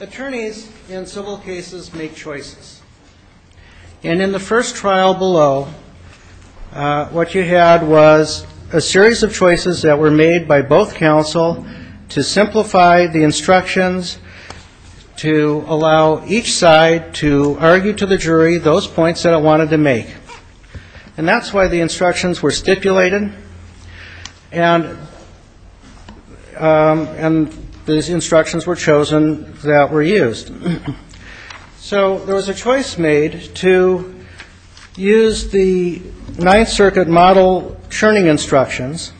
Attorneys in civil cases make choices. In the first trial below, what you had was a series of choices that were made by both counsel to simplify the instructions, to allow each side to argue to the jury those points that it wanted to make. And that's why the instructions were stipulated and the instructions were chosen that were used. So there was a choice made to use the Ninth Circuit model churning instructions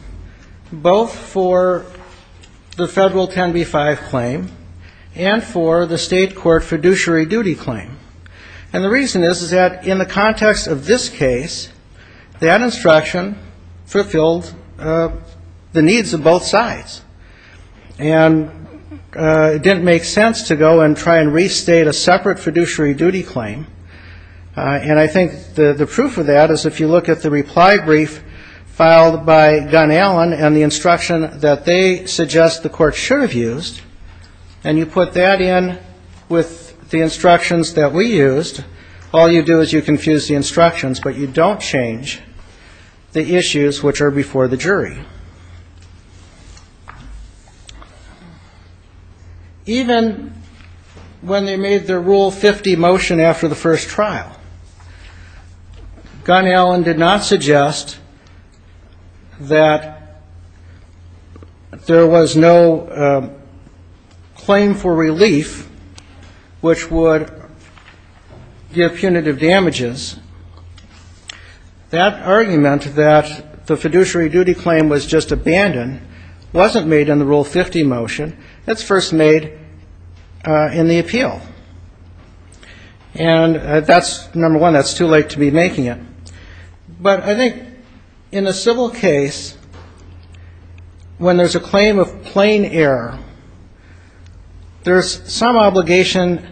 both for the federal 10b-5 claim and for the state court fiduciary duty claim. And the reason is that in the context of this case, that instruction fulfilled the needs of both sides. And it didn't make sense to go and try and restate a separate fiduciary duty claim. And I think the proof of that is if you look at the reply brief filed by Gunnallen and the instruction that they suggest the court should have used, and you put that in with the instructions that we used, all you do is you confuse the instructions, but you don't change the issues which are before the There was no claim for relief which would give punitive damages. That argument that the fiduciary duty claim was just abandoned wasn't made in the Rule 50 motion. That's first made in the appeal. And that's, number one, that's too late to be making it. But I think in a civil case, when there's a claim of plain error, there's some obligation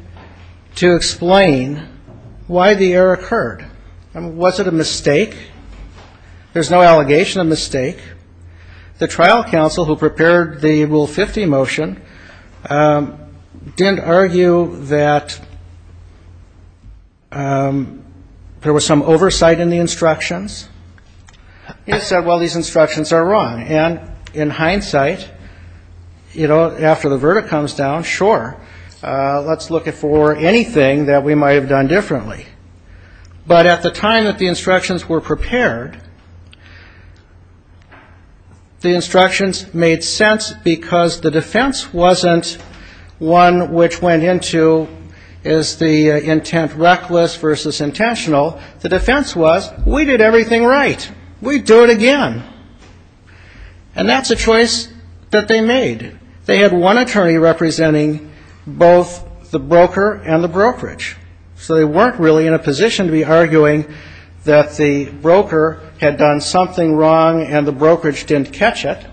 to explain why the error occurred. Was it a mistake? There's no allegation of mistake. The trial counsel who prepared the Rule 50 motion didn't argue that there was some oversight in the instructions. He just said, well, these instructions are wrong. And in hindsight, you know, after the verdict comes down, sure, let's look for anything that we might have done differently. But at the time that the instructions were prepared, the instructions made sense because the defense wasn't one which went into is the intent reckless versus intentional. The defense was we did everything right. We'd do it again. And that's a choice that they made. They had one attorney representing both the broker and the brokerage. So they weren't really in a position to be arguing that the broker had done something wrong and the brokerage didn't catch it.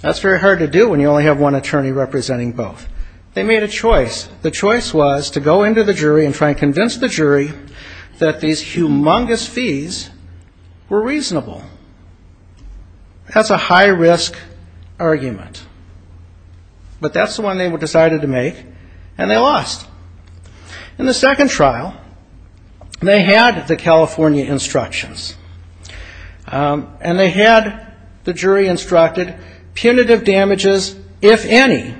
That's very hard to do when you only have one attorney representing both. They made a choice. The choice was to go into the jury and try and convince the jury that these humongous fees were reasonable. That's a high-risk argument. But that's the one they decided to make. And they lost. In the second trial, they had the California instructions. And they had the jury instructed punitive damages, if any.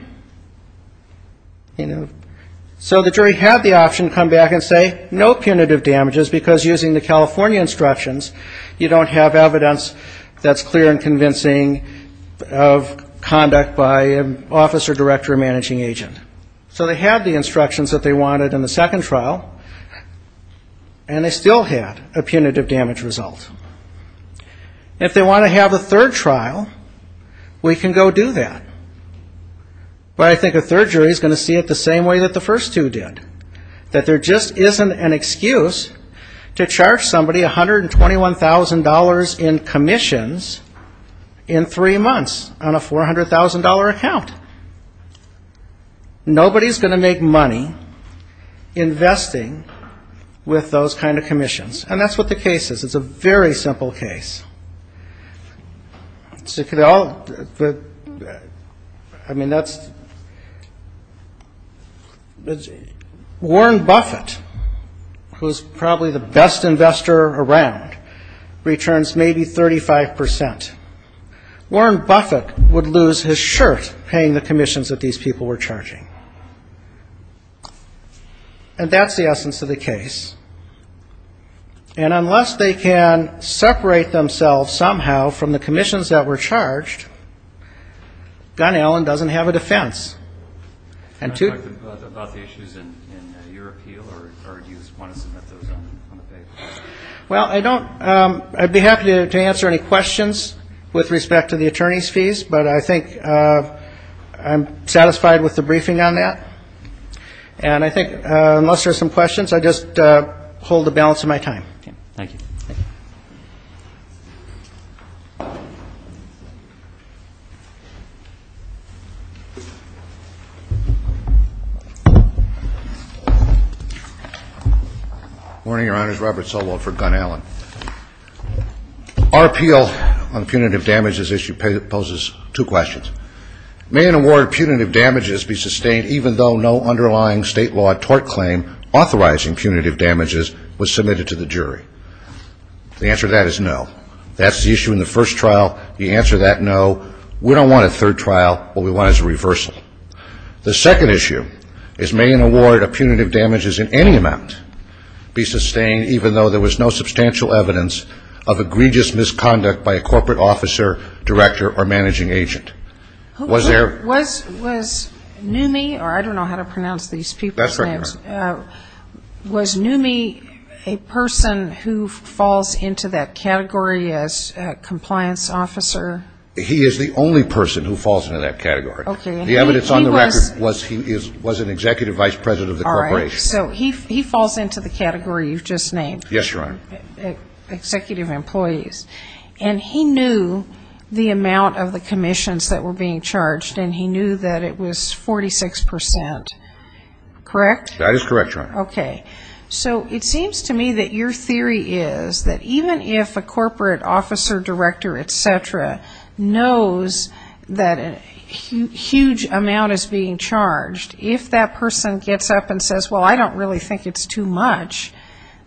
So the jury had the option to come back and say no punitive damages because using the California instructions, you don't have evidence that's clear and convincing of conduct by an officer, director, or managing agent. So they had the instructions that they wanted in the second trial. And they still had a punitive damage result. If they want to have a third trial, we can go do that. But I think a third jury is going to see it the same way that the first two did, that there just isn't an excuse to charge somebody $121,000 in commissions in three months on a $400,000 account. Nobody's going to make Warren Buffett, who's probably the best investor around, returns maybe 35%. Warren Buffett would lose his shirt paying the commissions that these people were charging. And that's the essence of the case. And unless they can separate themselves somehow from the commissions that were charged, Gunn-Allen doesn't have a defense. And two... Can I talk about the issues in your appeal, or do you just want to submit those on the paper? Well, I don't... I'd be happy to answer any questions with respect to the attorney's fees, but I think I'm satisfied with the briefing on that. And I think unless there's some questions, I just hold the balance of my time. Thank you. Thank you. Morning, Your Honors. Robert Solow for Gunn-Allen. Our appeal on the punitive damages issue poses two questions. May an award of punitive damages be sustained even though no underlying state law tort claim authorizing punitive damages was submitted to the jury? The answer to that is no. That's the issue in the first trial. The answer to that, no. We don't want a third trial. What we want is a reversal. The second issue is may an award of punitive damages in any amount be sustained even though there was no substantial evidence of egregious misconduct by a corporate officer, director, or managing agent? Was there... Was Noomi, or I don't know how to pronounce these people's names... That's right, Your Honor. Was Noomi a person who falls into that category as a compliance officer? He is the only person who falls into that category. The evidence on the record was he was an executive vice president of the corporation. All right, so he falls into the category you've just named. Yes, Your Honor. Executive employees. And he knew the amount of the commissions that were being charged, and he knew that it was 46 percent. Correct? That is correct, Your Honor. Okay. So it seems to me that your theory is that even if a corporate officer, director, et cetera, knows that a huge amount is being charged, if that person gets up and says, well, I don't really think it's too much,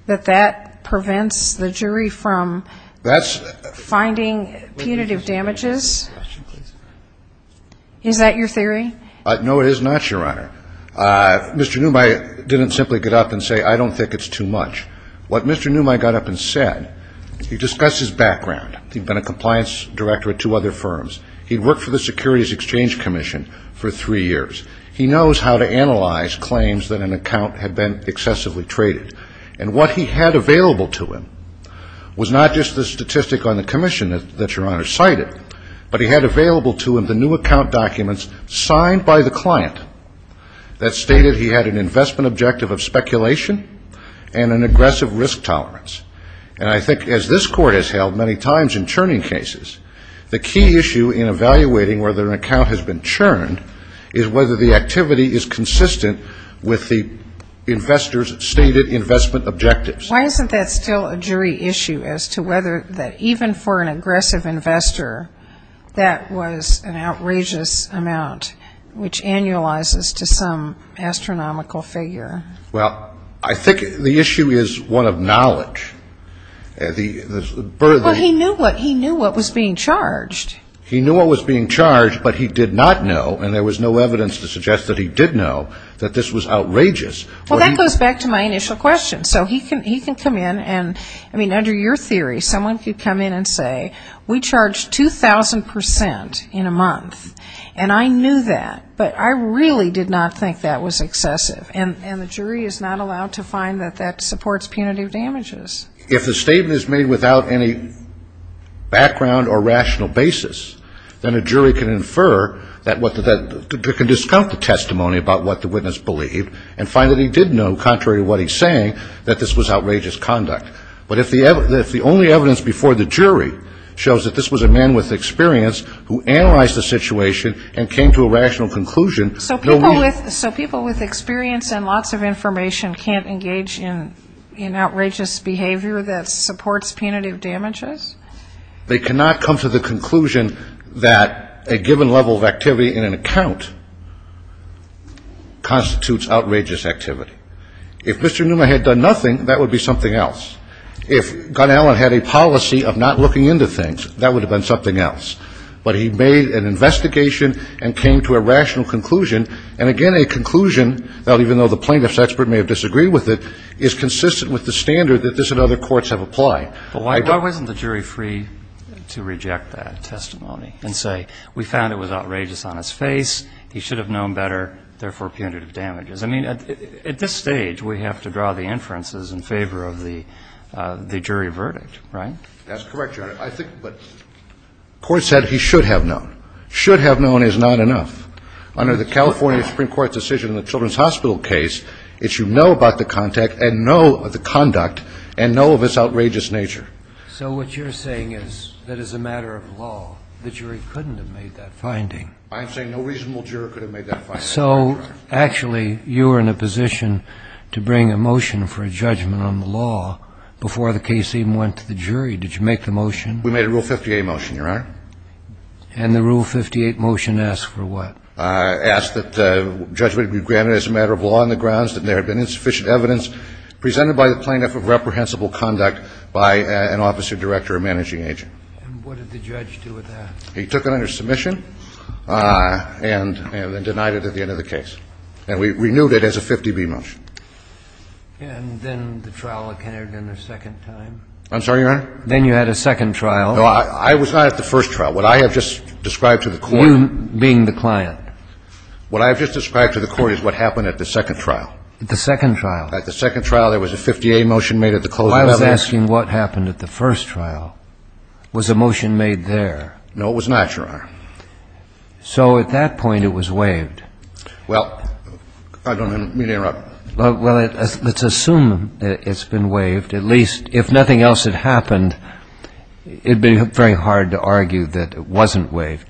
that that prevents the jury from finding punitive damages? Is that your theory? No, it is not, Your Honor. Mr. Noomi didn't simply get up and say, I don't think it's too much. What Mr. Noomi got up and said, he discussed his background. He'd been a compliance director at two other firms. He'd worked for the Securities Exchange Commission for three years. He knows how to analyze claims that an account had been excessively traded. And what he had available to him was not just the statistic on the commission that Your Honor cited, but he had available to him the new account documents signed by the client that stated he had an investment objective of speculation and an aggressive risk tolerance. And I think as this Court has held many times in churning cases, the key issue in evaluating whether an account has been churned is whether the activity is consistent with the investor's stated investment objectives. Why isn't that still a jury issue as to whether that even for an aggressive investor, that was an outrageous amount which annualizes to some astronomical figure? Well, I think the issue is one of knowledge. Well, he knew what was being charged. He knew what was being charged, but he did not know, and there was no evidence to suggest that he did know, that this was outrageous. Well, that goes back to my initial question. So he can come in and, I mean, under your theory, someone could come in and say, we charge 2,000 percent in a month, and I knew that, but I really did not think that was excessive. And the jury is not allowed to find that that supports punitive damages. If the statement is made without any background or rational basis, then a jury can infer that, can discount the testimony about what the witness believed and find that he did know, contrary to what he's saying, that this was outrageous conduct. But if the only evidence before the jury shows that this was a man with experience who analyzed the situation and came to a rational conclusion, no need. So people with experience and lots of information can't engage in outrageous behavior that supports punitive damages? They cannot come to the conclusion that a given level of activity in an account constitutes outrageous activity. If Mr. Newman had done nothing, that would be something else. If Gunn-Allen had a policy of not looking into things, that would have been something else. But he made an investigation and came to a rational conclusion, and again, a conclusion that even though the plaintiff's expert may have disagreed with it, is consistent with the standard that this and other courts have applied. But why wasn't the jury free to reject that testimony and say, we found it was outrageous on his face, he should have known better, therefore punitive damages? I mean, at this stage, we have to draw the inferences in favor of the jury verdict, right? That's correct, Your Honor. I think the court said he should have known. Should have known is not enough. Under the California Supreme Court's decision in the Children's Hospital case, it's you know about the contact and know of the conduct and know of its outrageous nature. So what you're saying is that as a matter of law, the jury couldn't have made that finding? I'm saying no reasonable juror could have made that finding. So actually, you were in a position to bring a motion for a judgment on the law before the case even went to the jury. Did you make the motion? We made a Rule 58 motion, Your Honor. And the Rule 58 motion asked for what? Asked that judgment be granted as a matter of law on the grounds that there had been insufficient evidence presented by the plaintiff of reprehensible conduct by an officer director or managing agent. And what did the judge do with that? He took it under submission and then denied it at the end of the case. And we renewed it as a 50-B motion. And then the trial entered in a second time? I'm sorry, Your Honor? Then you had a second trial. No, I was not at the first trial. What I have just described to the court You being the client. What I have just described to the court is what happened at the second trial. The second trial? At the second trial, there was a 50-A motion made at the closing of evidence. Well, I was asking what happened at the first trial. Was a motion made there? No, it was not, Your Honor. So at that point, it was waived. Well, I don't mean to interrupt. Well, let's assume that it's been waived. At least, if nothing else had happened, it would be very hard to argue that it wasn't waived.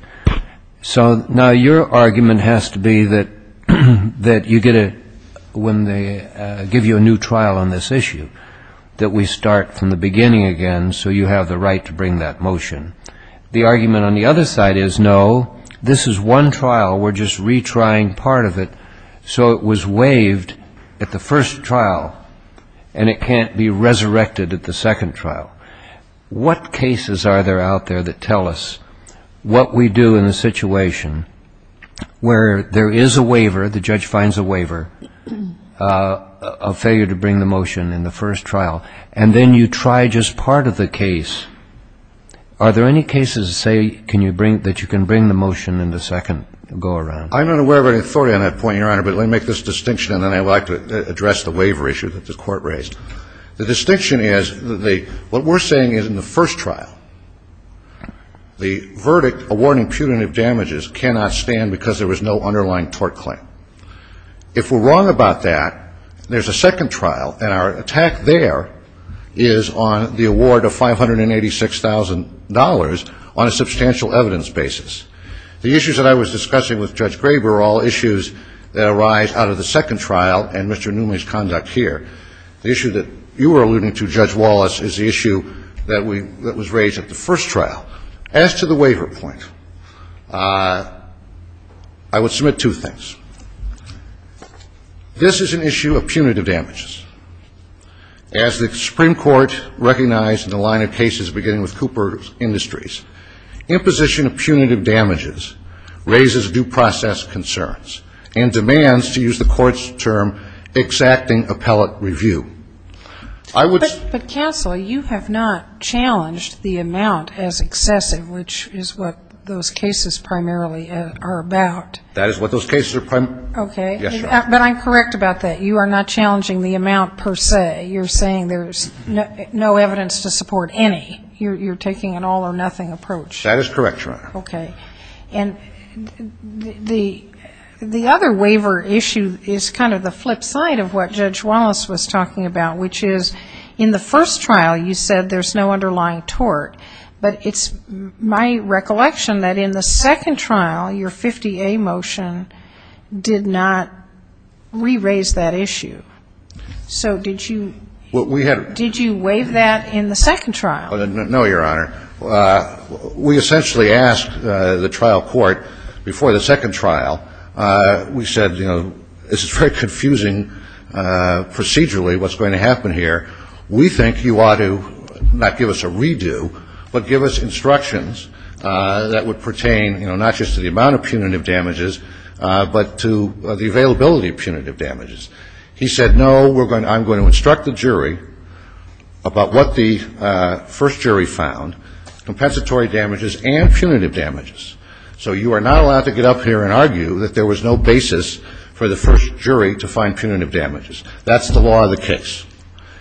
So now your argument has to be that when they give you a new trial on this issue, that we start from the beginning again so you have the right to bring that motion. The argument on the other side is, no, this is one trial. We're just retrying part of it so it was waived at the first trial and it can't be resurrected at the second trial. What cases are there out there that tell us what we do in a situation where there is a waiver, the judge finds a waiver, a failure to bring the motion in the first trial, and then you try just part of the case. Are there any cases that say that you can bring the motion in the second go-around? I'm not aware of any authority on that point, Your Honor, but let me make this distinction and then I'd like to address the waiver issue that the court raised. The distinction is what we're saying is in the first trial, the verdict awarding punitive damages cannot stand because there was no underlying tort claim. If we're wrong about that, there's a second trial and our attack there is on the award of $586,000 on a substantial evidence basis. The issues that I was discussing with Judge Graber are all issues that arise out of the second trial and Mr. Newman's conduct here. The issue that you were alluding to, Judge Wallace, is the issue that was raised at the first trial. As to the waiver point, I would submit two things. This is an issue of punitive damages. As the Supreme Court recognized in the line of cases beginning with Cooper Industries, imposition of punitive damages raises due process concerns and demands, to use the court's term, exacting appellate review. But counsel, you have not challenged the amount as excessive, which is what those cases primarily are about. That is what those cases are primarily about. Yes, Your Honor. But I'm correct about that. You are not challenging the amount per se. You're saying there's no evidence to support any. You're taking an all or nothing approach. That is correct, Your Honor. Okay. And the other waiver issue is kind of the flip side of what Judge Wallace was talking about, which is in the first trial you said there's no underlying tort. But it's my recollection that in the second trial, your 50A motion did not re-raise that issue. So did you waive that in the second trial? No, Your Honor. We essentially asked the trial court before the second trial, we said, you know, this is very confusing procedurally what's going to happen here. We think you ought to not give us a redo, but give us instructions that would pertain not just to the amount of punitive damages, but to the availability of punitive damages. He said, no, I'm going to instruct the jury about what the first jury found, compensatory damages and punitive damages. So you are not allowed to get up here and argue that there was no basis for the first jury to find punitive damages. That's the law of the case.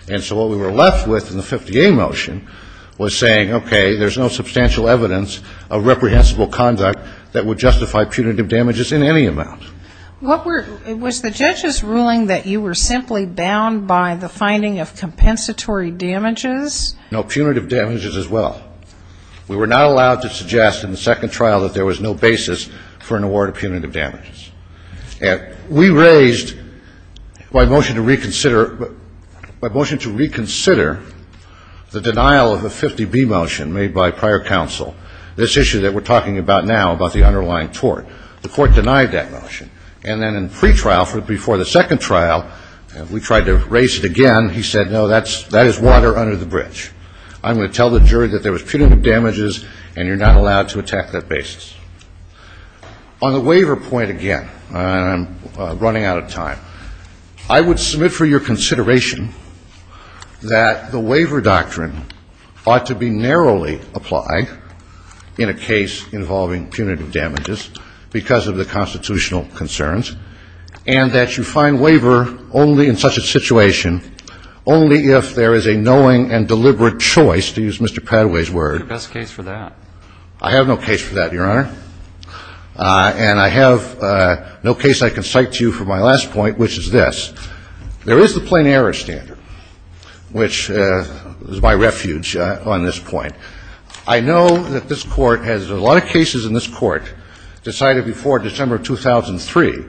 And so what we were left with in the 50A motion was saying, okay, there's no substantial evidence of reprehensible conduct that would justify punitive damages in any amount. Was the judge's ruling that you were simply bound by the finding of compensatory damages? No punitive damages as well. We were not allowed to suggest in the second trial that there was no basis for an award of punitive damages. And we raised by motion to reconsider the denial of the 50B motion made by prior counsel, this issue that we're talking about now about the underlying tort. The court denied that motion. And then in pretrial before the second trial, we tried to raise it again. He said, no, that is water under the bridge. I'm going to tell the jury that there was punitive damages and you're not allowed to attack that basis. On the waiver point again, and I'm running out of time, I would submit for your consideration that the waiver doctrine ought to be narrowly applied in a case involving punitive damages because of the constitutional concerns and that you find waiver only in such a situation, only if there is a knowing and deliberate choice, to use Mr. Padway's word. Is there a best case for that? I have no case for that, Your Honor. And I have no case I can cite to you for my last point, which is this. There is the plain error standard, which is my refuge on this point. I know that this Court has a lot of cases in this Court decided before December of 2003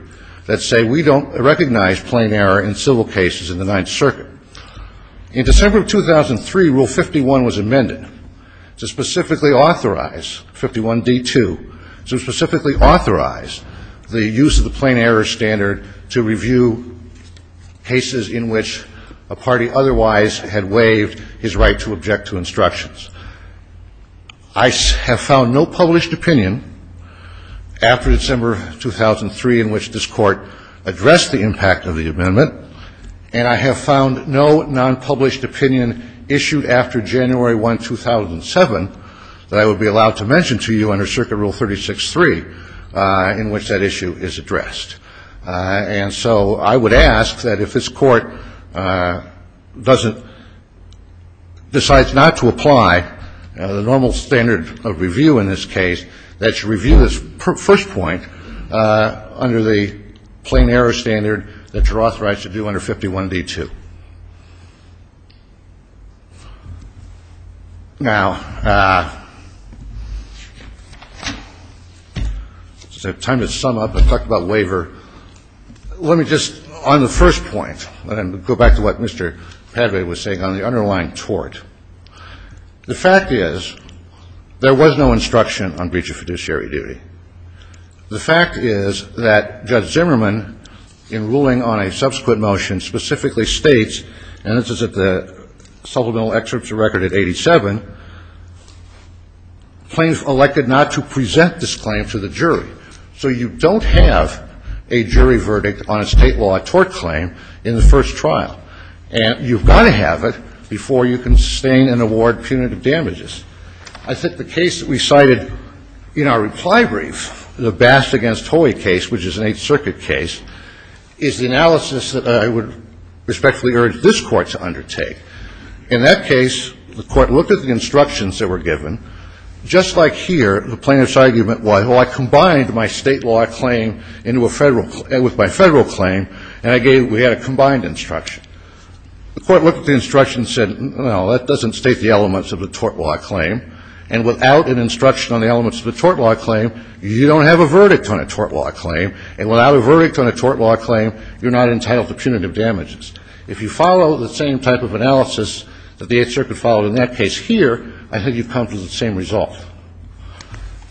that say we don't recognize plain error in civil cases in the Ninth Circuit. In December of 2003, Rule 51 was amended to specifically authorize, 51D2, to specifically authorize the use of the plain error standard to review cases in which a party otherwise had waived his right to object to instructions. I have found no published opinion after December of 2003 in which this Court addressed the impact of the amendment, and I have found no non-published opinion issued after January 1, 2007, that I would be allowed to mention to you under Circuit Rule 36-3 in which that issue is addressed. And so I would ask that if this Court doesn't decide not to apply the normal standard of review in this case, that you review this first point under the plain error standard that you're authorized to do under 51D2. Now, I just have time to sum up and talk about waiver. Let me just, on the first point, and go back to what Mr. Padre was saying on the underlying tort. The fact is there was no instruction on breach of fiduciary duty. The fact is that Judge Zimmerman, in ruling on a subsequent motion, specifically states, and this is at the supplemental excerpts of record at 87, claims elected not to present this claim to the jury. So you don't have a jury verdict on a State law tort claim in the first trial. And you've got to have it before you can sustain and award punitive damages. I think the case that we cited in our reply brief, the Bass v. Hoey case, which is an Eighth Circuit case, is the analysis that I would respectfully urge this Court to undertake. In that case, the Court looked at the instructions that were given. Just like here, the plaintiff's argument was, well, I combined my State law claim with my Federal claim, and we had a combined instruction. The Court looked at the instruction and said, no, that doesn't state the elements of the tort law claim. And without an instruction on the elements of the tort law claim, you don't have a verdict on a tort law claim. And without a verdict on a tort law claim, you're not entitled to punitive damages. If you follow the same type of analysis that the Eighth Circuit followed in that case here, I think you've come to the same result.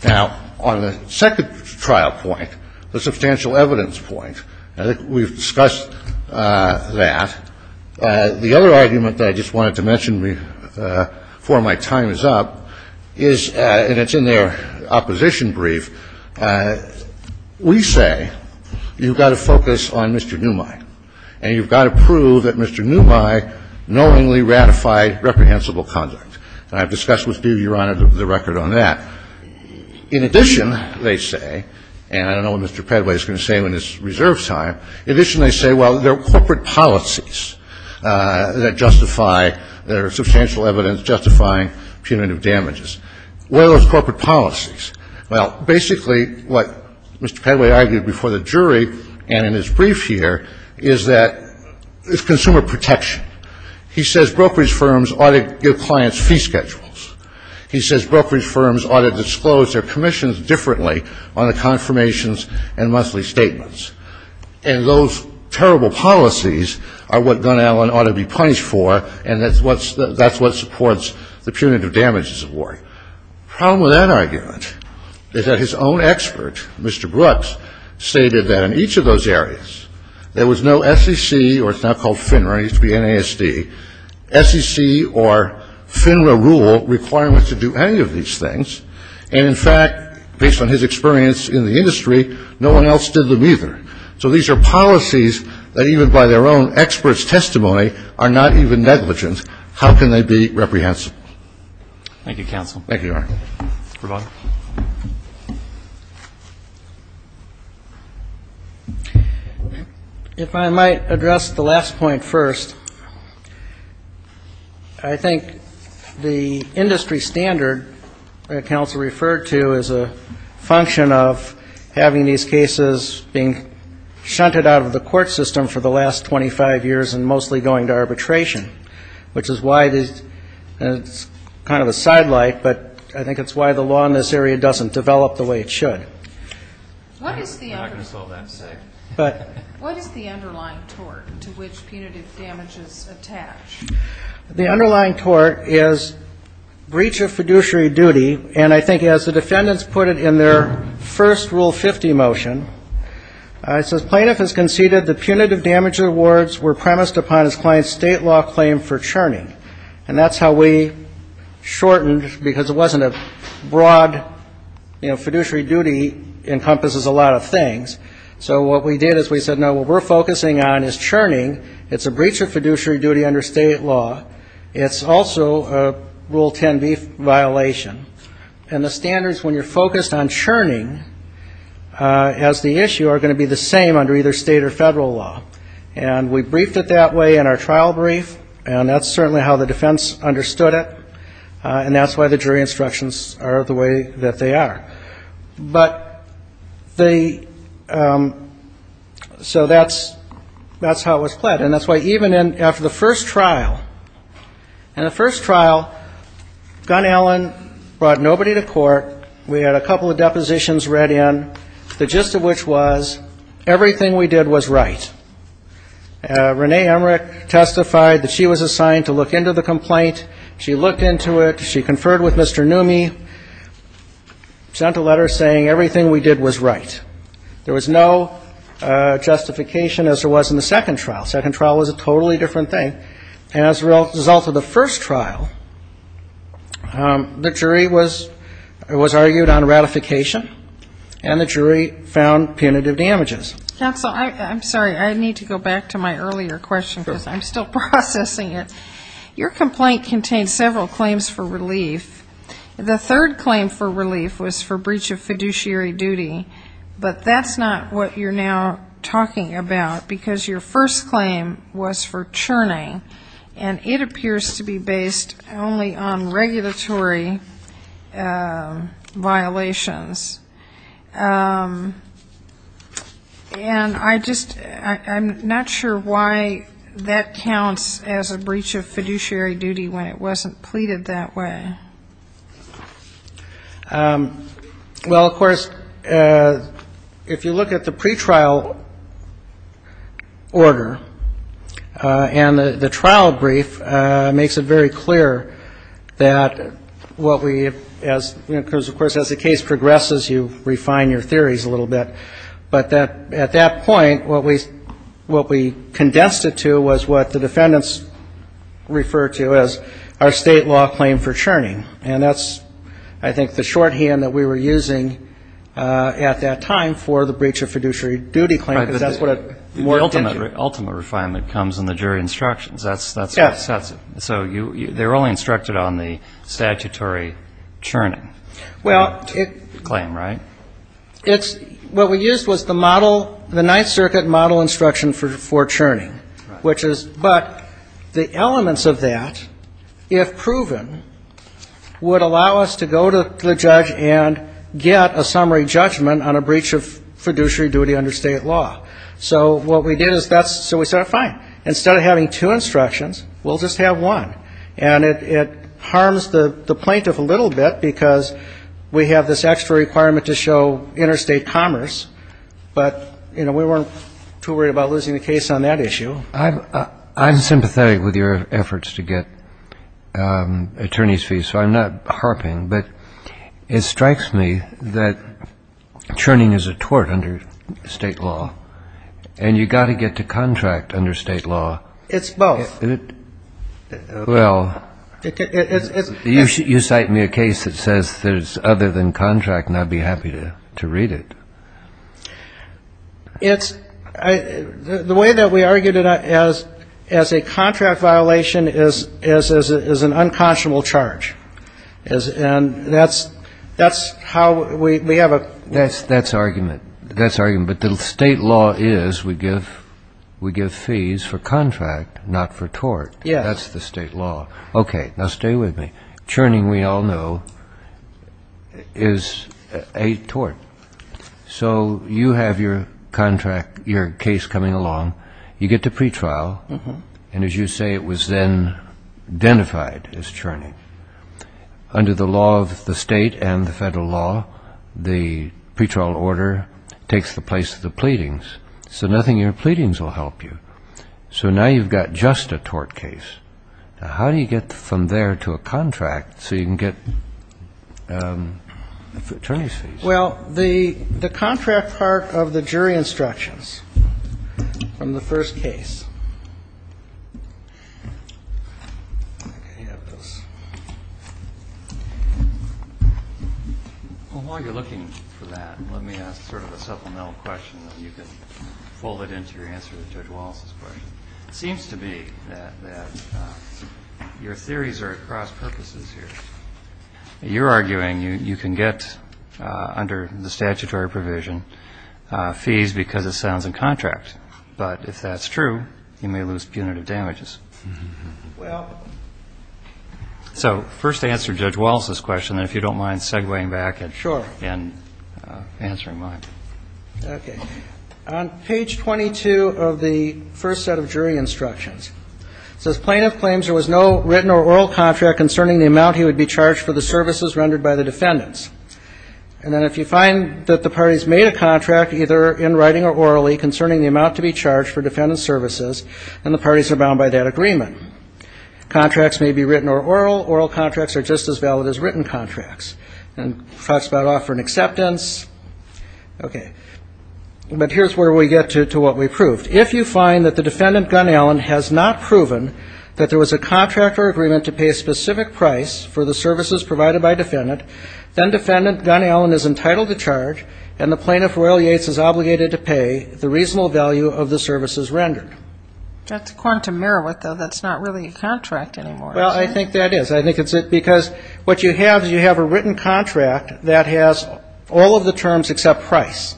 Now, on the second trial point, the substantial evidence point, we've discussed that. The other argument that I just wanted to mention before my time is up is, and it's in their opposition brief, we say you've got to focus on Mr. Neumeyer, and you've got to prove that Mr. Neumeyer knowingly ratified reprehensible And I've discussed with you, Your Honor, the record on that. In addition, they say, and I don't know what Mr. Pedway is going to say in his reserve time. In addition, they say, well, there are corporate policies that justify there are substantial evidence justifying punitive damages. What are those corporate policies? Well, basically, what Mr. Pedway argued before the jury and in his brief here is that it's consumer protection. He says brokerage firms ought to give clients fee schedules. He says brokerage firms ought to disclose their commissions differently on the confirmations and monthly statements. And those terrible policies are what Gunn-Allen ought to be punished for, and that's what supports the punitive damages award. The problem with that argument is that his own expert, Mr. Brooks, stated that in each of those areas, there was no SEC, or it's now called FINRA, it used to be NASD, SEC or FINRA rule requiring us to do any of these things. And, in fact, based on his experience in the industry, no one else did them either. So these are policies that even by their own expert's testimony are not even negligent. How can they be reprehensible? Thank you, counsel. Thank you, Your Honor. Supervisor? If I might address the last point first, I think the industry standard that counsel referred to is a function of having these cases being shunted out of the court system for the last 25 years and mostly going to arbitration, which is why it's kind of a sidelight, but I think it's why the law in this area doesn't develop the way it should. I'm not going to solve that. What is the underlying tort to which punitive damages attach? The underlying tort is breach of fiduciary duty, and I think as the defendants put it in their first Rule 50 motion, it says, Plaintiff has conceded the punitive damage awards were premised upon his client's state law claim for churning. And that's how we shortened, because it wasn't a broad, you know, fiduciary duty encompasses a lot of things. So what we did is we said, no, what we're focusing on is churning. It's a breach of fiduciary duty under state law. It's also a Rule 10b violation, and the standards when you're focused on churning as the issue are going to be the same under either state or federal law. And we briefed it that way in our trial brief, and that's certainly how the defense understood it, and that's why the jury instructions are the way that they are. But the... So that's how it was played, and that's why even after the first trial, in the first trial, Gunn-Allen brought nobody to court. We had a couple of depositions read in, the gist of which was everything we did was right. Renee Emmerich testified that she was assigned to look into the complaint. She looked into it. She conferred with Mr. Neumey. Sent a letter saying everything we did was right. There was no justification as there was in the second trial. Second trial was a totally different thing. As a result of the first trial, the jury was argued on ratification, and the jury found punitive damages. Counsel, I'm sorry, I need to go back to my earlier question because I'm still processing it. Your complaint contains several claims for relief. The third claim for relief was for breach of fiduciary duty, but that's not what you're now talking about because your first claim was for churning, and it appears to be based only on regulatory violations. And I just... I'm not sure why that counts as a breach of fiduciary duty when it wasn't pleaded that way. Well, of course, if you look at the pretrial order and the trial brief, it makes it very clear that what we... Because, of course, as the case progresses, you refine your theories a little bit. But at that point, what we condensed it to was what the defendants refer to as our state law claim for churning. And that's, I think, the shorthand that we were using at that time for the breach of fiduciary duty claim because that's what it... The ultimate refinement comes in the jury instructions. That's what sets it. So they were only instructed on the statutory churning claim, right? What we used was the model, the Ninth Circuit model instruction for churning, which is... But the elements of that, if proven, would allow us to go to the judge and get a summary judgment on a breach of fiduciary duty under state law. So what we did is that's... So we said, fine, instead of having two instructions, we'll just have one. And it harms the plaintiff a little bit because we have this extra requirement to show interstate commerce, but, you know, we weren't too worried about losing the case on that issue. I'm sympathetic with your efforts to get attorney's fees, so I'm not harping, but it strikes me that churning is a tort under state law and you've got to get to contract under state law. It's both. Well, you cite me a case that says there's other than contract and I'd be happy to read it. It's... The way that we argued it as a contract violation is an unconscionable charge. And that's... That's how we have a... That's argument. But the state law is we give fees for contract, not for tort. That's the state law. Okay, now stay with me. Churning, we all know, is a tort. So you have your contract, your case coming along. You get to pretrial. And as you say, it was then identified as churning. Under the law of the state and the federal law, the pretrial order takes the place of the pleadings. So nothing in your pleadings will help you. So now you've got just a tort case. How do you get from there to a contract so you can get attorney's fees? Well, the contract part of the jury instructions from the first case. Well, while you're looking for that, let me ask sort of a supplemental question and you can fold it into your answer to Judge Wallace's question. It seems to be that your theories are at cross-purposes here. You're arguing you can get under the statutory provision fees because it sounds in contract. But if that's true, you may lose punitive damages. So first answer Judge Wallace's question and if you don't mind segueing back and answering mine. Okay. On page 22 of the first set of plaintiff claims there was no written or oral contract concerning the amount he would be charged for the services rendered by the defendants. And then if you find that the parties made a contract either in writing or orally concerning the amount to be charged for defendant's services, then the parties are bound by that agreement. Contracts may be written or oral. Oral contracts are just as valid as written contracts. And talks about offering acceptance. Okay. But here's where we get to what we proved. If you find that the defendant Gunn-Allen has not proven that there was a contract or agreement to pay a specific price for the services provided by defendant, then defendant Gunn-Allen is entitled to charge and the plaintiff Royall Yates is obligated to pay the reasonable value of the services rendered. That's a quantum merit though. That's not really a contract anymore. Well, I think that is. I think it's because what you have is you have a written contract that has all of the terms except price.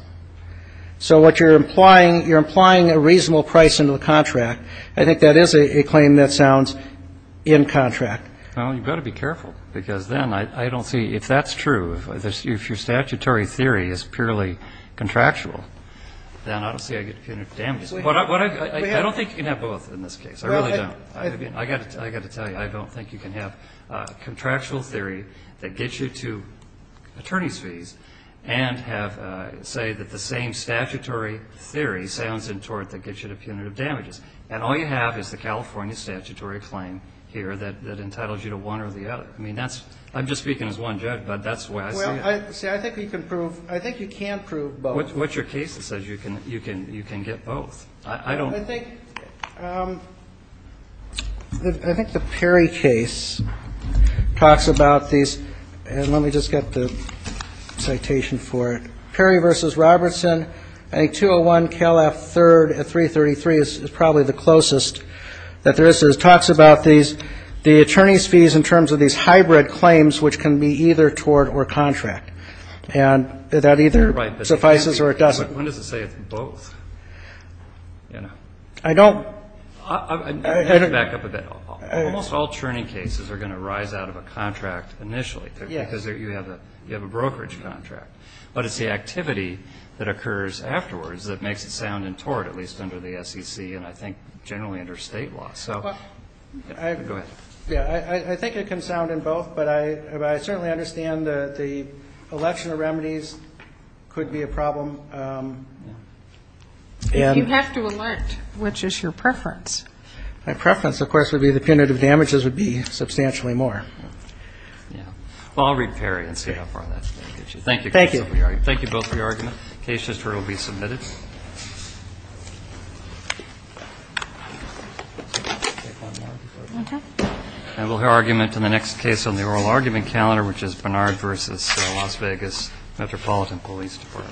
So what you're implying, you're implying that there is a contract. I think that is a claim that sounds in contract. Well, you've got to be careful because then I don't see, if that's true, if your statutory theory is purely contractual, then I don't see I get punitive damages. I don't think you can have both in this case. I really don't. I've got to tell you, I don't think you can have contractual theory that gets you to attorney's fees and say that the same and all you have is the California statutory claim here that entitles you to one or the other. I mean, that's, I'm just speaking as one judge, but that's the way I see it. See, I think you can prove, I think you can't prove both. What's your case that says you can get both? I don't I think I think the Perry case talks about these, and let me just get the citation for it. Perry v. Robertson a 201 Cal F 333 is probably the closest that there is. It talks about the attorney's fees in terms of these hybrid claims which can be either tort or contract and that either suffices or it doesn't. When does it say it's both? I don't Let me back up a bit. Almost all churning cases are going to rise out of a contract initially because you have a brokerage contract. But it's the activity that makes it sound in tort, at least under the SEC and I think generally under state law. Go ahead. I think it can sound in both but I certainly understand the election of remedies could be a problem. If you have to alert, which is your preference? My preference, of course, would be the punitive damages would be substantially more. Well, I'll read Perry and see how far that gets you. Thank you. Thank you both for your argument. The case history will be submitted. And we'll hear argument in the next case on the oral argument calendar which is Bernard v. Las Vegas Metropolitan Police Department. Thank you.